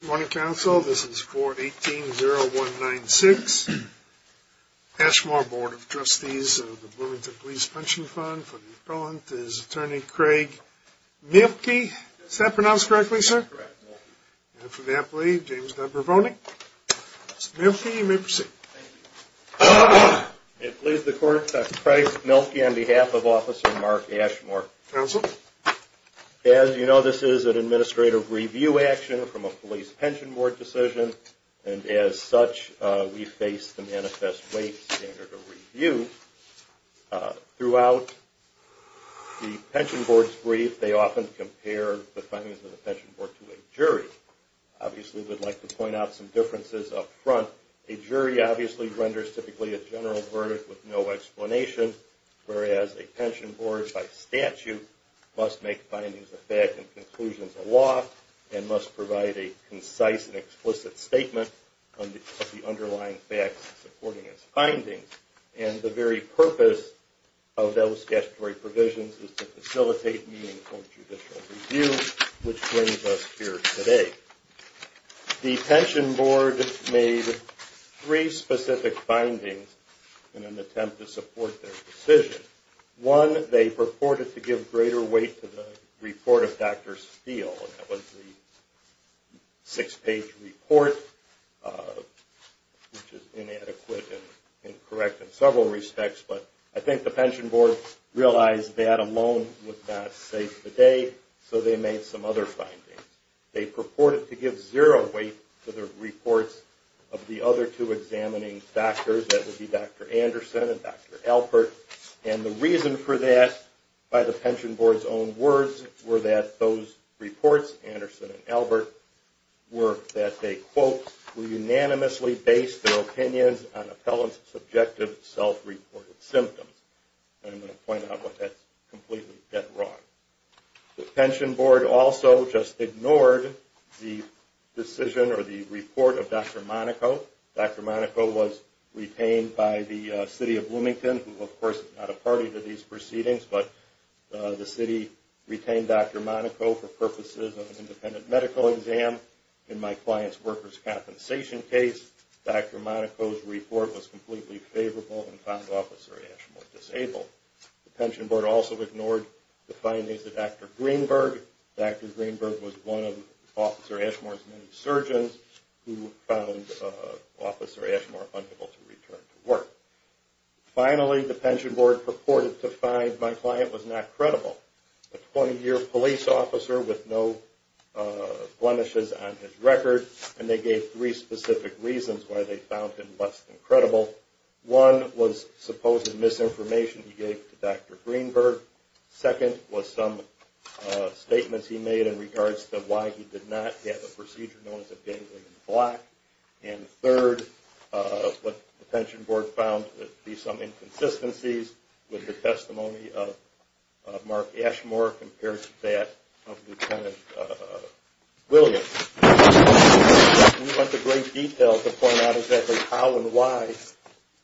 Good morning, Council. This is 4180196. Ashmore Board of Trustees of the Bloomington Police Pension Fund. For the appellant is Attorney Craig Mielke. Is that pronounced correctly, sir? Correct. And for the appellee, James Dunbar-Vonig. Mr. Mielke, you may proceed. Thank you. It please the court, Dr. Craig Mielke on behalf of Officer Mark Ashmore. Council. As you know, this is an administrative review action from a police pension board decision, and as such, we face the manifest weight standard of review. Throughout the pension board's brief, they often compare the findings of the pension board to a jury. Obviously, we'd like to point out some differences up front. A jury obviously renders typically a general verdict with no explanation, whereas a pension board by statute must make findings of fact and conclusions of law and must provide a concise and explicit statement of the underlying facts supporting its findings. And the very purpose of those statutory provisions is to facilitate meaningful judicial review, which brings us here today. The pension board made three specific findings in an attempt to support their decision. One, they purported to give greater weight to the report of Dr. Steele. That was the six-page report, which is inadequate and incorrect in several respects, but I think the pension board realized that alone was not safe today, so they made some other findings. They purported to give zero weight to the reports of the other two examining doctors, that would be Dr. Anderson and Dr. Albert, and the reason for that, by the pension board's own words, were that those reports, Anderson and Albert, were that they, quote, were unanimously based their opinions on appellant's subjective self-reported symptoms. And I'm going to point out what that's completely dead wrong. The pension board also just ignored the decision or the report of Dr. Monaco. Dr. Monaco was retained by the city of Bloomington, who, of course, is not a party to these proceedings, but the city retained Dr. Monaco for purposes of an independent medical exam. In my client's workers' compensation case, Dr. Monaco's report was completely favorable and found Officer Ashmore disabled. The pension board also ignored the findings of Dr. Greenberg. Dr. Greenberg was one of Officer Ashmore's many surgeons who found Officer Ashmore unable to return to work. Finally, the pension board purported to find my client was not credible. A 20-year police officer with no blemishes on his record, and they gave three specific reasons why they found him less than credible. One was supposed misinformation he gave to Dr. Greenberg. Second was some statements he made in regards to why he did not have a procedure known as a ganglion block. And third, what the pension board found to be some inconsistencies with the testimony of Mark Ashmore compared to that of Lieutenant Williams. We went to great detail to point out exactly how and why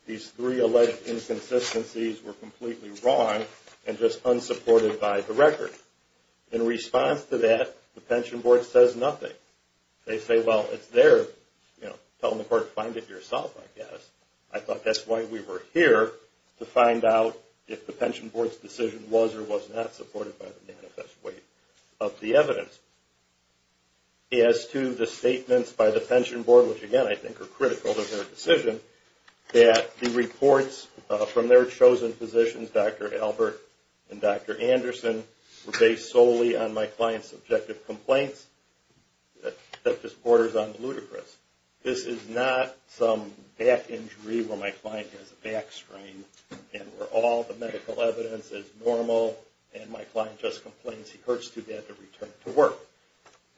these three alleged inconsistencies were completely wrong and just unsupported by the record. In response to that, the pension board says nothing. They say, well, it's their, you know, telling the court, find it yourself, I guess. I thought that's why we were here, to find out if the pension board's decision was or was not supported by the manifest weight of the evidence. As to the statements by the pension board, which, again, I think are critical of their decision, that the reports from their chosen physicians, Dr. Albert and Dr. Anderson, were based solely on my client's subjective complaints, that just borders on ludicrous. This is not some back injury where my client has a back strain and where all the medical evidence is normal, and my client just complains he hurts too bad to return to work.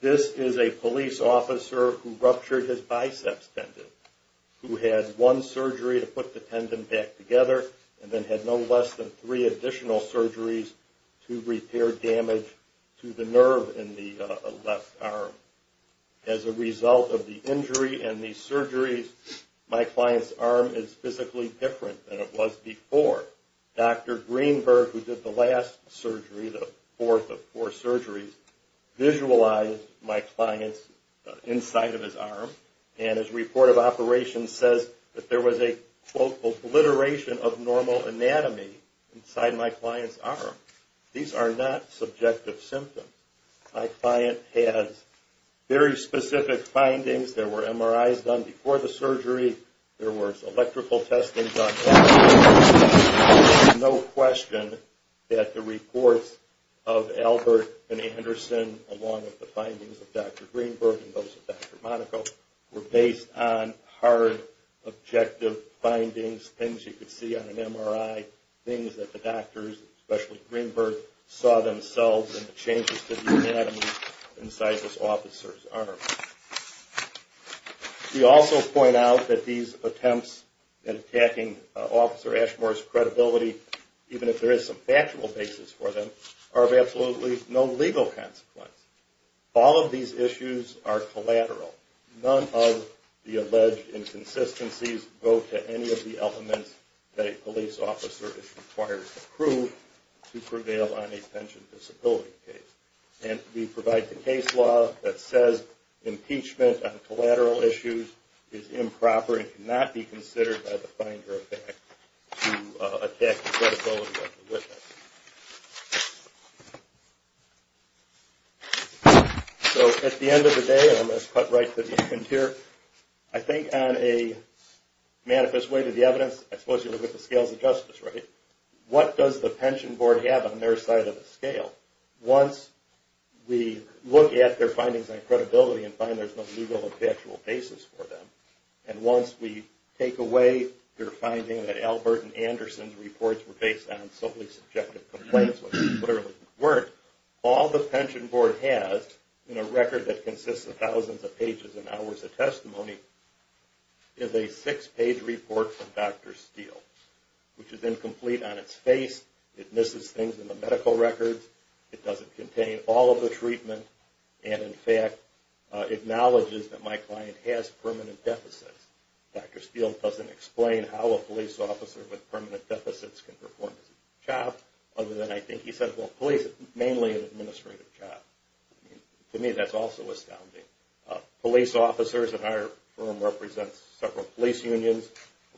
This is a police officer who ruptured his biceps tendon, who had one surgery to put the tendon back together, and then had no less than three additional surgeries to repair damage to the nerve in the left arm. As a result of the injury and these surgeries, my client's arm is physically different than it was before. Dr. Greenberg, who did the last surgery, the fourth of four surgeries, visualized my client's inside of his arm, and his report of operations says that there was a, quote, obliteration of normal anatomy inside my client's arm. These are not subjective symptoms. My client has very specific findings. There were MRIs done before the surgery. There was electrical testing done. There's no question that the reports of Albert and Anderson, along with the findings of Dr. Greenberg and those of Dr. Monaco, were based on hard, objective findings, things you could see on an MRI, things that the doctors, especially Greenberg, saw themselves in the changes to the anatomy inside this officer's arm. We also point out that these attempts at attacking Officer Ashmore's credibility, even if there is some factual basis for them, are of absolutely no legal consequence. All of these issues are collateral. None of the alleged inconsistencies go to any of the elements that a police officer is required to prove to prevail on a pension disability case. And we provide the case law that says impeachment on collateral issues is improper and cannot be considered by the finder of facts to attack the credibility of the witness. So at the end of the day, and I'm going to cut right to the end here, I think on a manifest way to the evidence, I suppose you look at the scales of justice, right? What does the pension board have on their side of the scale? Once we look at their findings on credibility and find there's no legal or factual basis for them, and once we take away their finding that Albert and Anderson's reports were based on solely subjective complaints, which they literally weren't, all the pension board has in a record that consists of thousands of pages and hours of testimony is a six-page report from Dr. Steele, which is incomplete on its face. It misses things in the medical records. It doesn't contain all of the treatment and, in fact, acknowledges that my client has permanent deficits. Dr. Steele doesn't explain how a police officer with permanent deficits can perform his job, other than I think he said, well, police is mainly an administrative job. To me, that's also astounding. Police officers at our firm represent several police unions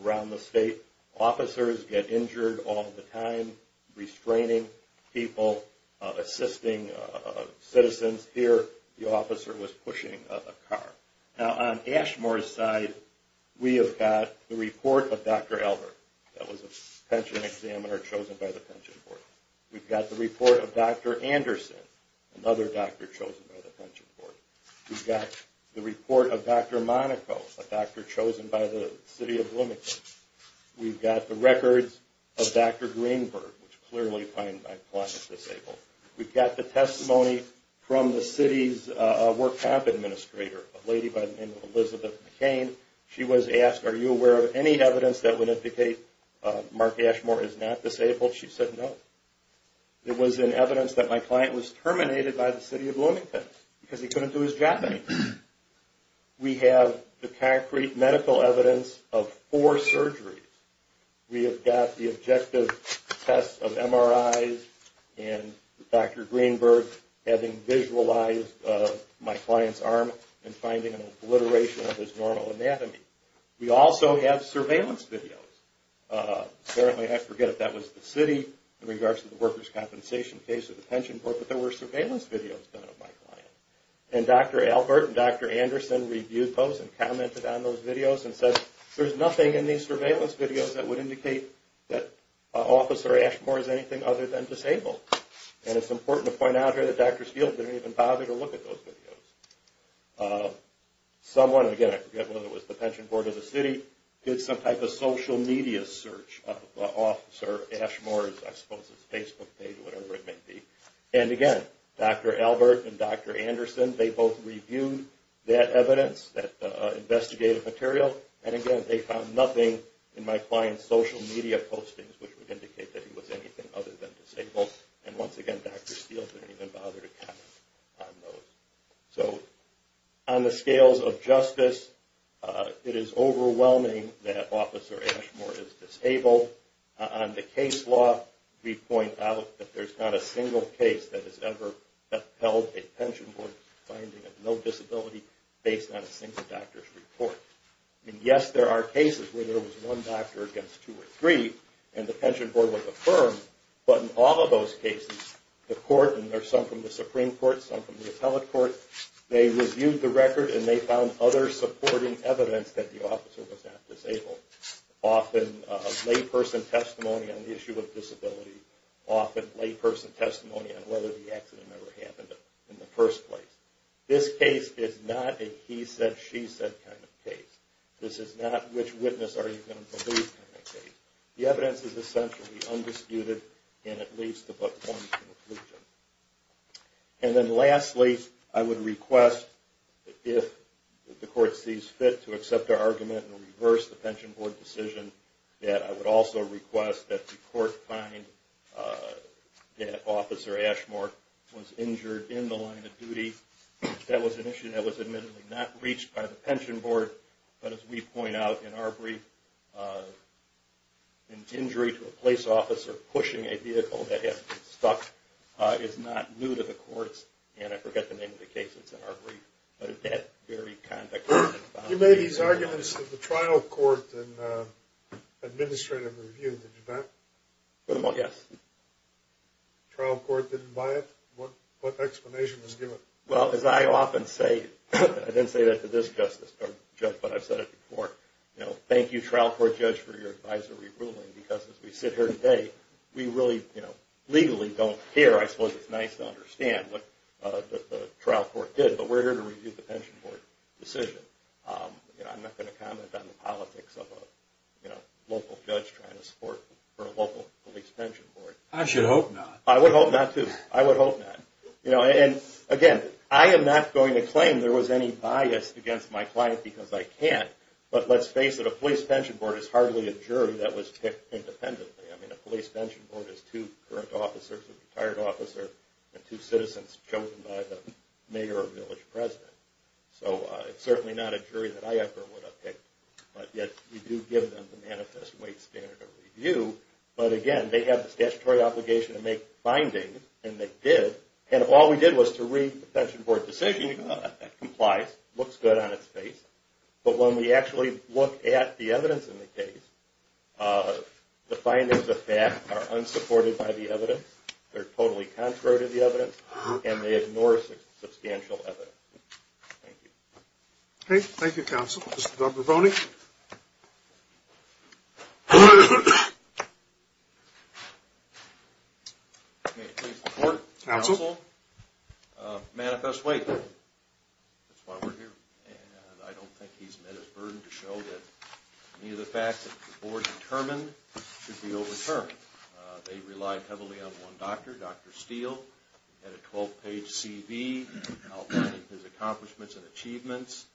around the state. Officers get injured all the time restraining people, assisting citizens. Here, the officer was pushing a car. Now, on Ashmore's side, we have got the report of Dr. Albert. That was a pension examiner chosen by the pension board. We've got the report of Dr. Anderson, another doctor chosen by the pension board. We've got the report of Dr. Monaco, a doctor chosen by the city of Bloomington. We've got the records of Dr. Greenberg, which clearly find my client disabled. We've got the testimony from the city's work camp administrator, a lady by the name of Elizabeth McCain. She was asked, are you aware of any evidence that would indicate Mark Ashmore is not disabled? She said no. It was in evidence that my client was terminated by the city of Bloomington because he couldn't do his job anymore. We have the concrete medical evidence of four surgeries. We have got the objective tests of MRIs and Dr. Greenberg having visualized my client's arm and finding an obliteration of his normal anatomy. We also have surveillance videos. Apparently, I forget if that was the city in regards to the workers' compensation case or the pension board, but there were surveillance videos done of my client. And Dr. Albert and Dr. Anderson reviewed those and commented on those videos and said, there's nothing in these surveillance videos that would indicate that Officer Ashmore is anything other than disabled. And it's important to point out here that Dr. Steele didn't even bother to look at those videos. Someone, again, I forget whether it was the pension board or the city, did some type of social media search of Officer Ashmore's, I suppose it's Facebook page or whatever it may be. And, again, Dr. Albert and Dr. Anderson, they both reviewed that evidence, that investigative material, and, again, they found nothing in my client's social media postings which would indicate that he was anything other than disabled. And, once again, Dr. Steele didn't even bother to comment on those. So on the scales of justice, it is overwhelming that Officer Ashmore is disabled. On the case law, we point out that there's not a single case that has ever upheld a pension board's finding of no disability based on a single doctor's report. And, yes, there are cases where there was one doctor against two or three and the pension board would affirm, but in all of those cases, the court, and there's some from the Supreme Court, some from the appellate court, they reviewed the record and they found other supporting evidence that the officer was not disabled. Often layperson testimony on the issue of disability, often layperson testimony on whether the accident ever happened in the first place. This case is not a he said, she said kind of case. This is not which witness are you going to believe kind of case. The evidence is essentially undisputed and at least above point of conclusion. And then lastly, I would request if the court sees fit to accept our argument and reverse the pension board decision, that I would also request that the court find that Officer Ashmore was injured in the line of duty. That was an issue that was admittedly not reached by the pension board, but as we point out in our brief, an injury to a police officer pushing a vehicle that had been stuck is not new to the courts, and I forget the name of the case that's in our brief, but at that very context. You made these arguments at the trial court and administrative review, did you not? Yes. The trial court didn't buy it? What explanation was given? Well, as I often say, I didn't say that to this justice, but I've said it before. Thank you trial court judge for your advisory ruling because as we sit here today, we really legally don't care. I suppose it's nice to understand what the trial court did, but we're here to review the pension board decision. I'm not going to comment on the politics of a local judge trying to support for a local police pension board. I should hope not. I would hope not too. I would hope not. And again, I am not going to claim there was any bias against my client because I can't, but let's face it, a police pension board is hardly a jury that was picked independently. I mean, a police pension board is two current officers, a retired officer, and two citizens chosen by the mayor or village president. So it's certainly not a jury that I ever would have picked, but yet you do give them the manifest weight standard of review, but again, they have the statutory obligation to make findings, and they did. And all we did was to read the pension board decision. It complies. It looks good on its face. But when we actually look at the evidence in the case, the findings of that are unsupported by the evidence. They're totally contrary to the evidence, and they ignore substantial evidence. Thank you. Okay, thank you, counsel. Mr. Dobrovony? Okay, please report, counsel. Manifest weight. That's why we're here. And I don't think he's met his burden to show that any of the facts that the board determined should be overturned. They relied heavily on one doctor, Dr. Steele. He had a 12-page CV outlining his accomplishments and achievements.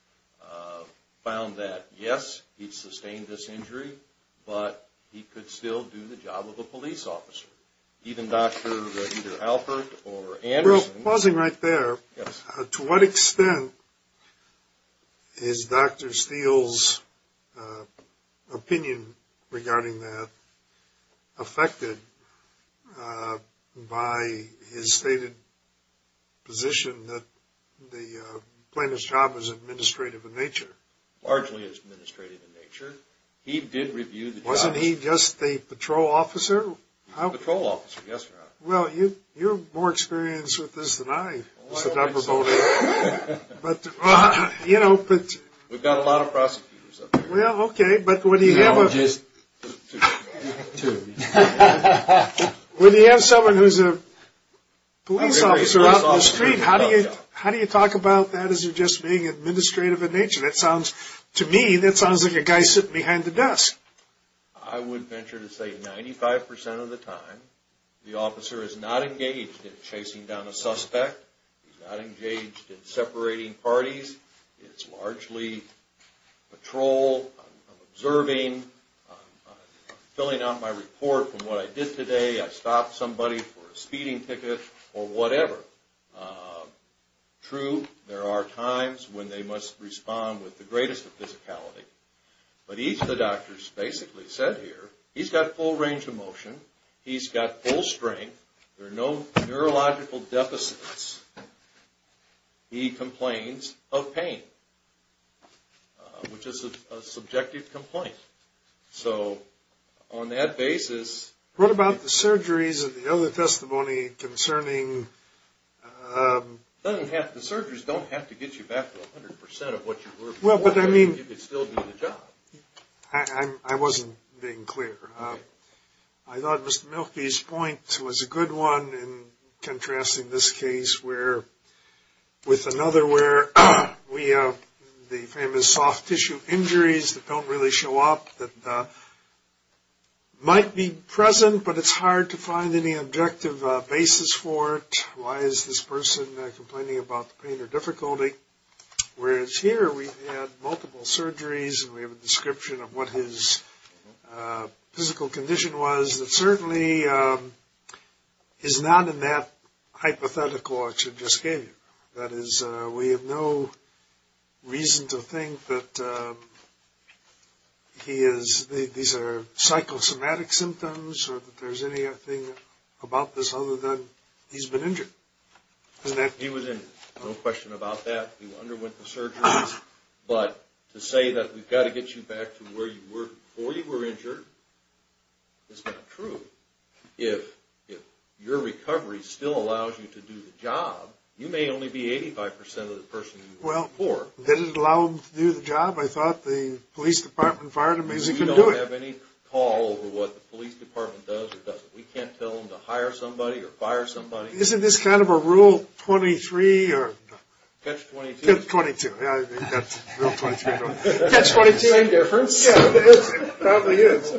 Found that, yes, he sustained this injury, but he could still do the job of a police officer. Even Dr. either Alpert or Anderson. Pausing right there. Yes. To what extent is Dr. Steele's opinion regarding that affected by his stated position that the plaintiff's job is administrative in nature? Largely is administrative in nature. He did review the job. Wasn't he just a patrol officer? Patrol officer, yes, Your Honor. Well, you're more experienced with this than I, Mr. Dobrovony. We've got a lot of prosecutors up here. Well, okay, but when you have someone who's a police officer out in the street, how do you talk about that as just being administrative in nature? To me, that sounds like a guy sitting behind a desk. I would venture to say 95% of the time, the officer is not engaged in chasing down a suspect. He's not engaged in separating parties. It's largely patrol, observing, filling out my report from what I did today. I stopped somebody for a speeding ticket or whatever. True, there are times when they must respond with the greatest of physicality. But each of the doctors basically said here, he's got full range of motion. He's got full strength. There are no neurological deficits. He complains of pain, which is a subjective complaint. So on that basis... What about the surgeries and the other testimony concerning... The surgeries don't have to get you back to 100% of what you were before. You could still do the job. I wasn't being clear. I thought Mr. Milkey's point was a good one in contrasting this case with another where we have the famous soft tissue injuries that don't really show up, that might be present, but it's hard to find any objective basis for it. Why is this person complaining about the pain or difficulty? Whereas here, we had multiple surgeries and we have a description of what his physical condition was. It certainly is not in that hypothetical that I just gave you. That is, we have no reason to think that these are psychosomatic symptoms or that there's anything about this other than he's been injured. He was in no question about that. He underwent the surgeries. But to say that we've got to get you back to where you were before you were injured is not true. If your recovery still allows you to do the job, you may only be 85% of the person you were before. Did it allow him to do the job? I thought the police department fired him. We don't have any call over what the police department does or doesn't. We can't tell them to hire somebody or fire somebody. Isn't this kind of a Rule 23? Catch-22. Catch-22. Catch-22, any difference? Yeah, it probably is.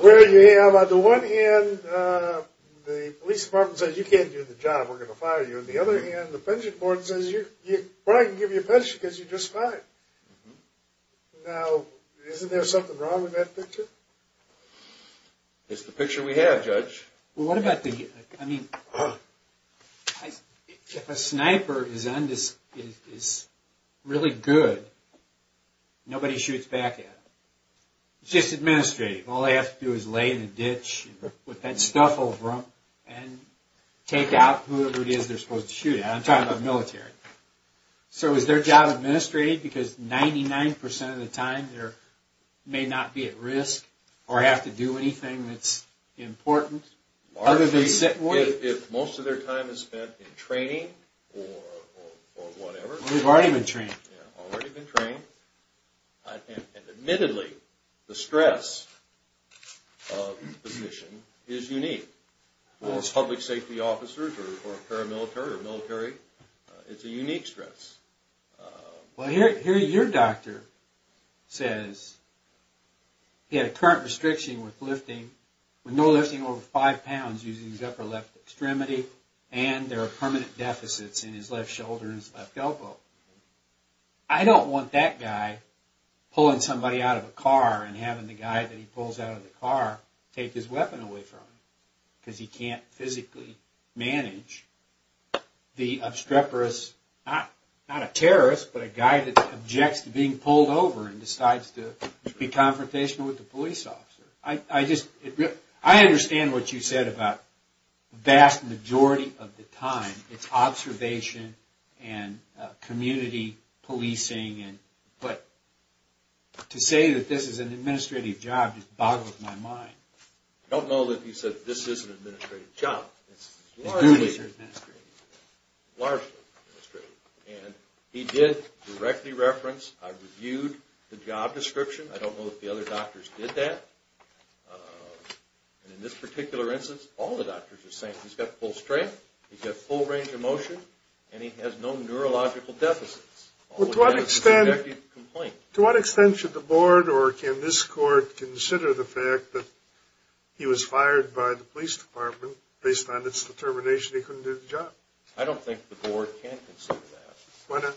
Where you have, on the one hand, the police department says, you can't do the job, we're going to fire you. On the other hand, the pension board says, well, I can give you a pension because you're just fine. Now, isn't there something wrong with that picture? It's the picture we have, Judge. Well, what about the... If a sniper is really good, nobody shoots back at him. It's just administrative. All they have to do is lay in a ditch with that stuff over them and take out whoever it is they're supposed to shoot at. I'm talking about military. So is their job administrative because 99% of the time they may not be at risk or have to do anything that's important? If most of their time is spent in training or whatever... They've already been trained. Already been trained. And admittedly, the stress of the position is unique. Whether it's public safety officers or paramilitary or military, it's a unique stress. Well, here your doctor says he had a current restriction with no lifting over 5 pounds using his upper left extremity and there are permanent deficits in his left shoulder and his left elbow. I don't want that guy pulling somebody out of a car and having the guy that he pulls out of the car take his weapon away from him. Because he can't physically manage the obstreperous... Not a terrorist, but a guy that objects to being pulled over and decides to be confrontational with the police officer. I understand what you said about the vast majority of the time it's observation and community policing. But to say that this is an administrative job just boggles my mind. I don't know that he said this is an administrative job. It's largely administrative. Largely administrative. And he did directly reference, I reviewed the job description. I don't know if the other doctors did that. In this particular instance, all the doctors are saying he's got full strength, he's got full range of motion, and he has no neurological deficits. To what extent should the board or can this court consider the fact that he was fired by the police department based on its determination he couldn't do the job? I don't think the board can consider that. Why not?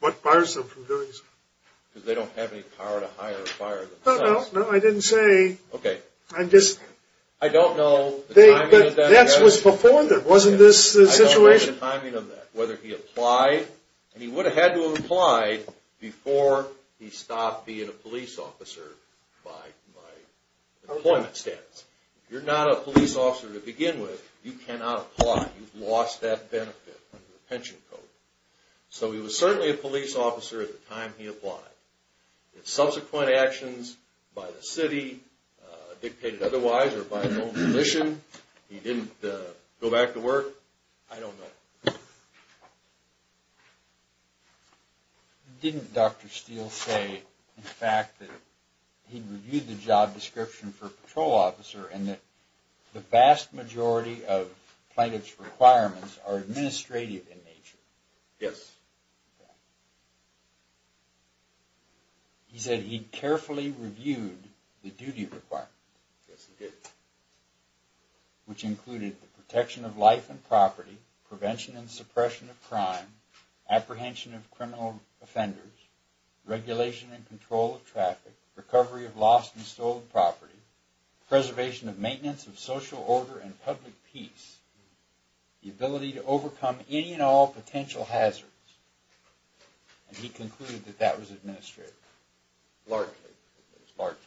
What bars them from doing so? Because they don't have any power to hire or fire themselves. No, no, I didn't say... Okay. I'm just... I don't know... But that was before, wasn't this the situation? I don't know the timing of that. Whether he applied, and he would have had to have applied before he stopped being a police officer by employment status. If you're not a police officer to begin with, you cannot apply. You've lost that benefit under the pension code. So he was certainly a police officer at the time he applied. Subsequent actions by the city dictated otherwise, or by his own volition, he didn't go back to work, I don't know. Didn't Dr. Steele say, in fact, that he reviewed the job description for patrol officer and that the vast majority of plaintiff's requirements are administrative in nature? Yes. He said he carefully reviewed the duty requirements. Yes, he did. Which included the protection of life and property, prevention and suppression of crime, apprehension of criminal offenders, regulation and control of traffic, recovery of lost and stolen property, preservation and maintenance of social order and public peace, the ability to overcome any and all potential hazards. And he concluded that that was administrative. Largely. Largely.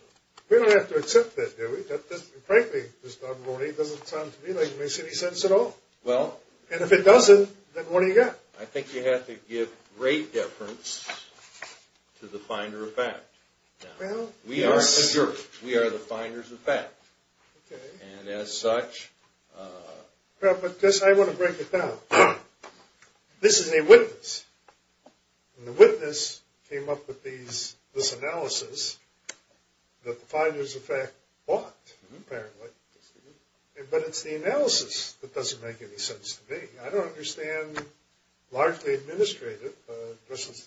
We don't have to accept that, do we? Frankly, this Dr. Roney doesn't sound to me like it makes any sense at all. Well. And if it doesn't, then what do you got? I think you have to give great deference to the finder of fact. Well. We are the finders of fact. Okay. And as such. Well, but guess I want to break it down. This is a witness. And the witness came up with this analysis that the finders of fact bought, apparently. But it's the analysis that doesn't make any sense to me. I don't understand largely administrative. Just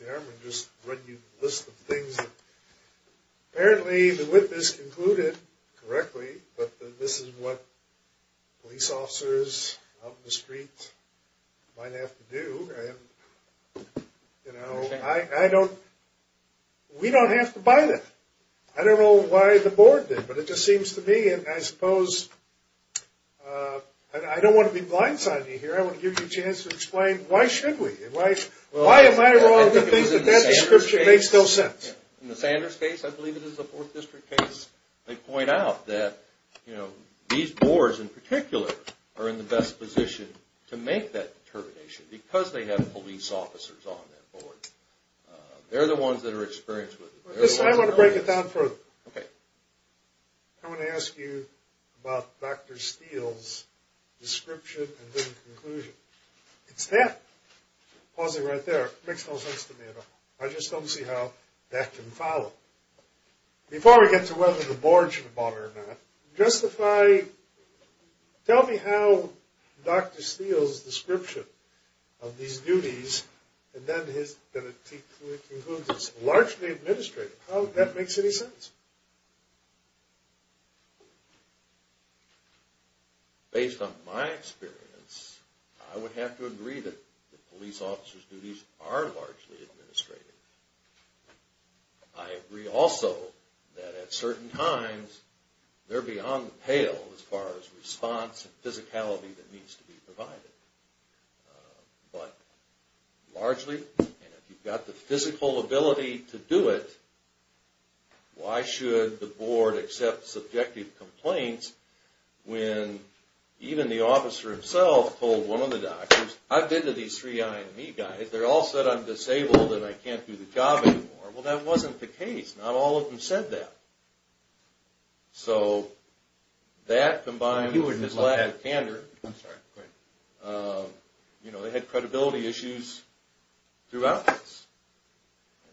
the list of things. Apparently the witness concluded correctly that this is what police officers out in the street might have to do. You know. I don't. We don't have to buy that. I don't know why the board did. But it just seems to me. And I suppose. I don't want to be blindsided here. I want to give you a chance to explain why should we. Why am I wrong that that description makes no sense. In the Sanders case. I believe it is a fourth district case. They point out that, you know, these boards in particular are in the best position to make that determination. Because they have police officers on that board. They're the ones that are experienced with it. I want to break it down further. Okay. I want to ask you about Dr. Steele's description and then conclusion. It's that. Pausing right there. Makes no sense to me at all. I just don't see how that can follow. Before we get to whether the board should have bought it or not. Justify. Tell me how Dr. Steele's description of these duties. And then his. Largely administrative. How that makes any sense. Based on my experience. I would have to agree that the police officers duties are largely administrative. I agree also that at certain times they're beyond the pale as far as response and physicality that needs to be provided. But largely, and if you've got the physical ability to do it. Why should the board accept subjective complaints when even the officer himself told one of the doctors. I've been to these three IME guys. They're all said I'm disabled and I can't do the job anymore. Well, that wasn't the case. Not all of them said that. So, that combined with his lack of candor. You know, they had credibility issues throughout this.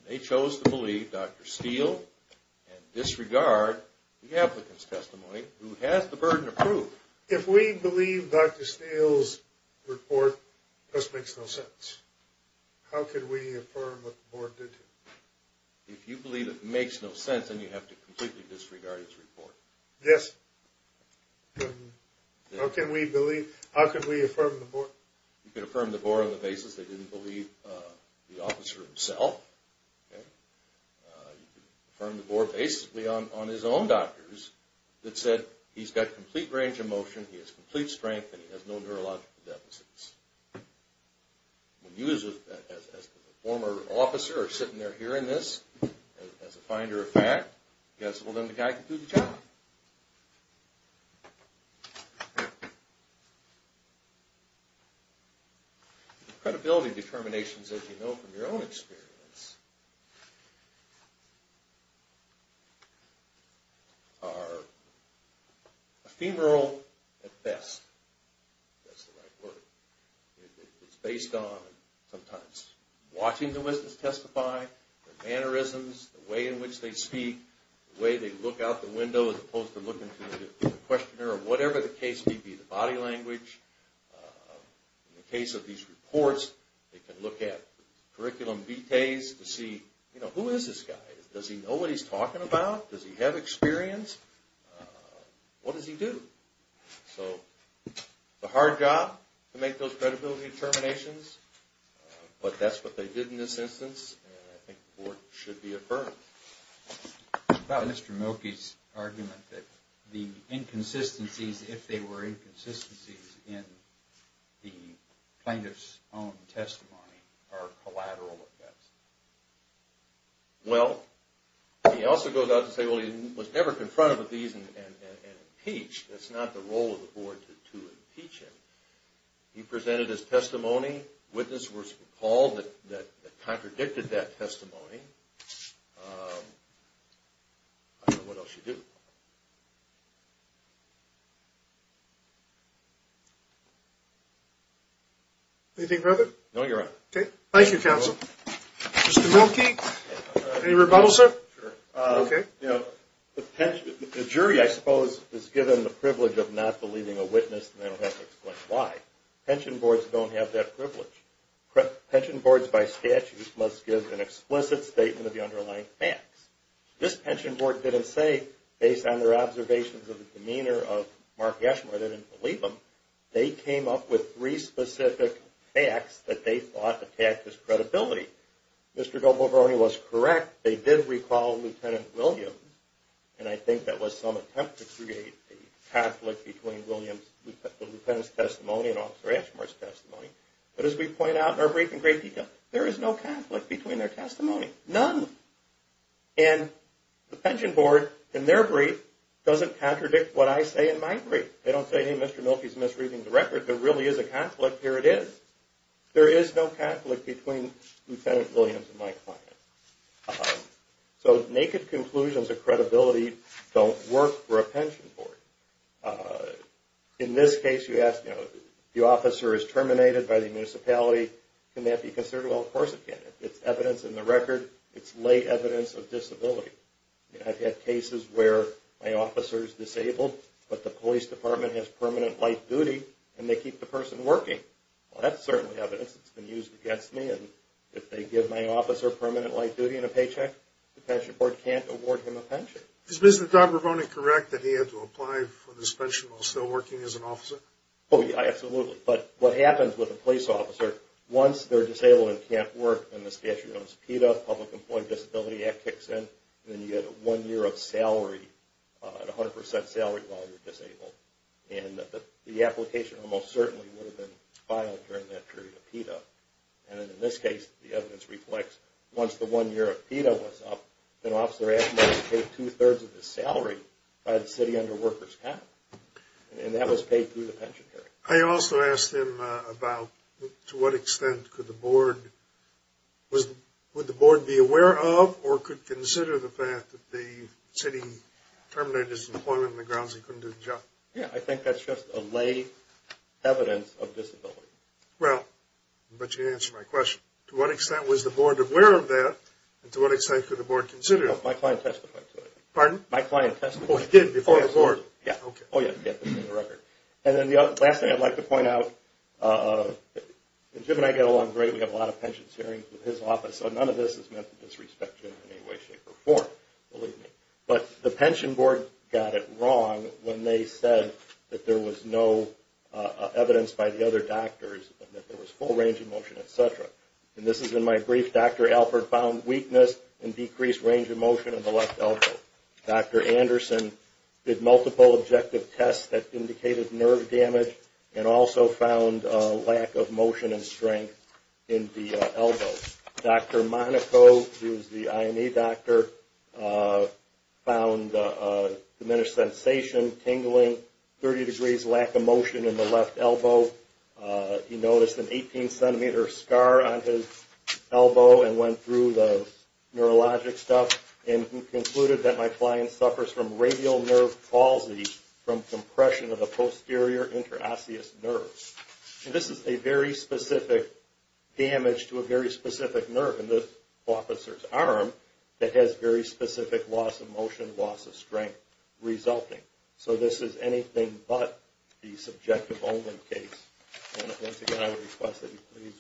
They chose to believe Dr. Steele. And disregard the applicant's testimony who has the burden of proof. If we believe Dr. Steele's report just makes no sense. How can we affirm what the board did to him? If you believe it makes no sense, then you have to completely disregard his report. Yes. How can we believe. How can we affirm the board. You can affirm the board on the basis they didn't believe the officer himself. You can affirm the board basically on his own doctors that said he's got complete range of motion, he has complete strength, and he has no neurological deficits. When you as the former officer are sitting there hearing this as a finder of fact, guess, well, then the guy can do the job. Credibility determinations, as you know from your own experience, are ephemeral at best. That's the right word. It's based on sometimes watching the witness testify, their mannerisms, the way in which they speak, the way they look out the window as opposed to looking to the questioner or whatever the case may be, the body language. In the case of these reports, they can look at curriculum vitaes to see, you know, who is this guy? Does he know what he's talking about? Does he have experience? What does he do? So it's a hard job to make those credibility determinations, but that's what they did in this instance, and I think the board should be affirmed. About Mr. Milkey's argument that the inconsistencies, if they were inconsistencies in the plaintiff's own testimony, are collateral effects. Well, he also goes out to say, well, he was never confronted with these and impeached. That's not the role of the board to impeach him. He presented his testimony. Witnesses were called that contradicted that testimony. I don't know what else you do. Anything further? No, Your Honor. Okay. Thank you, Counsel. Mr. Milkey, any rebuttal, sir? Sure. Okay. The jury, I suppose, is given the privilege of not believing a witness and they don't have to explain why. Pension boards don't have that privilege. Pension boards, by statute, must give an explicit statement of the underlying facts. This pension board didn't say, based on their observations of the demeanor of Mark Yeshmer, they didn't believe him. They came up with three specific facts that they thought attacked his credibility. Mr. Del Boveroni was correct. They did recall Lieutenant Williams, and I think that was some attempt to create a Catholic between the lieutenant's testimony and Officer Yeshmer's testimony. But as we point out in our brief in great detail, there is no Catholic between their testimony. None. And the pension board, in their brief, doesn't contradict what I say in my brief. They don't say, hey, Mr. Milkey's misreading the record. There really is a Catholic. Here it is. There is no Catholic between Lieutenant Williams and my client. So naked conclusions of credibility don't work for a pension board. In this case, you ask, the officer is terminated by the municipality. Can that be considered? Well, of course it can. It's evidence in the record. It's lay evidence of disability. I've had cases where my officer is disabled, but the police department has permanent life duty, and they keep the person working. Well, that's certainly evidence that's been used against me. And if they give my officer permanent life duty and a paycheck, the pension board can't award him a pension. Is Mr. Don Ramone correct that he had to apply for this pension while still working as an officer? Oh, yeah, absolutely. But what happens with a police officer, once they're disabled and can't work, then the statute goes PETA, Public Employee Disability Act kicks in, and then you get a one-year of salary, a 100 percent salary while you're disabled. And the application almost certainly would have been filed during that period of PETA. And in this case, the evidence reflects once the one-year of PETA was up, an officer actually was paid two-thirds of his salary by the city under workers' comp. And that was paid through the pension period. I also asked him about to what extent could the board be aware of or could consider the fact that the city terminated his employment on the grounds he couldn't do the job. Yeah, I think that's just a lay evidence of disability. Well, I bet you answered my question. To what extent was the board aware of that, and to what extent could the board consider it? My client testified to it. Pardon? My client testified to it. Oh, he did, before the board? Yeah. Oh, yeah, this is in the record. And then the last thing I'd like to point out, Jim and I get along great, we have a lot of pensions hearings with his office, so none of this is meant to disrespect Jim in any way, shape, or form, believe me. But the pension board got it wrong when they said that there was no evidence by the other doctors that there was full range of motion, et cetera. And this is in my brief. Dr. Alford found weakness and decreased range of motion in the left elbow. Dr. Anderson did multiple objective tests that indicated nerve damage and also found a lack of motion and strength in the elbow. Dr. Monaco, who is the INA doctor, found diminished sensation, tingling, 30 degrees lack of motion in the left elbow. He noticed an 18-centimeter scar on his elbow and went through the neurologic stuff and concluded that my client suffers from radial nerve palsy from compression of the posterior interosseous nerves. And this is a very specific damage to a very specific nerve in the officer's arm that has very specific loss of motion, loss of strength resulting. So this is anything but the subjective omen case. And once again, I would request that you please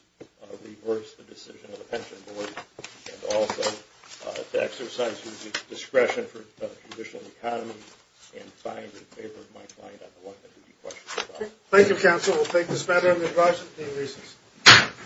reverse the decision of the pension board and also to exercise your discretion for the condition of the economy and find in favor of my client on the one that you questioned about. Thank you, counsel. We'll take this matter into the advisory team. Recess.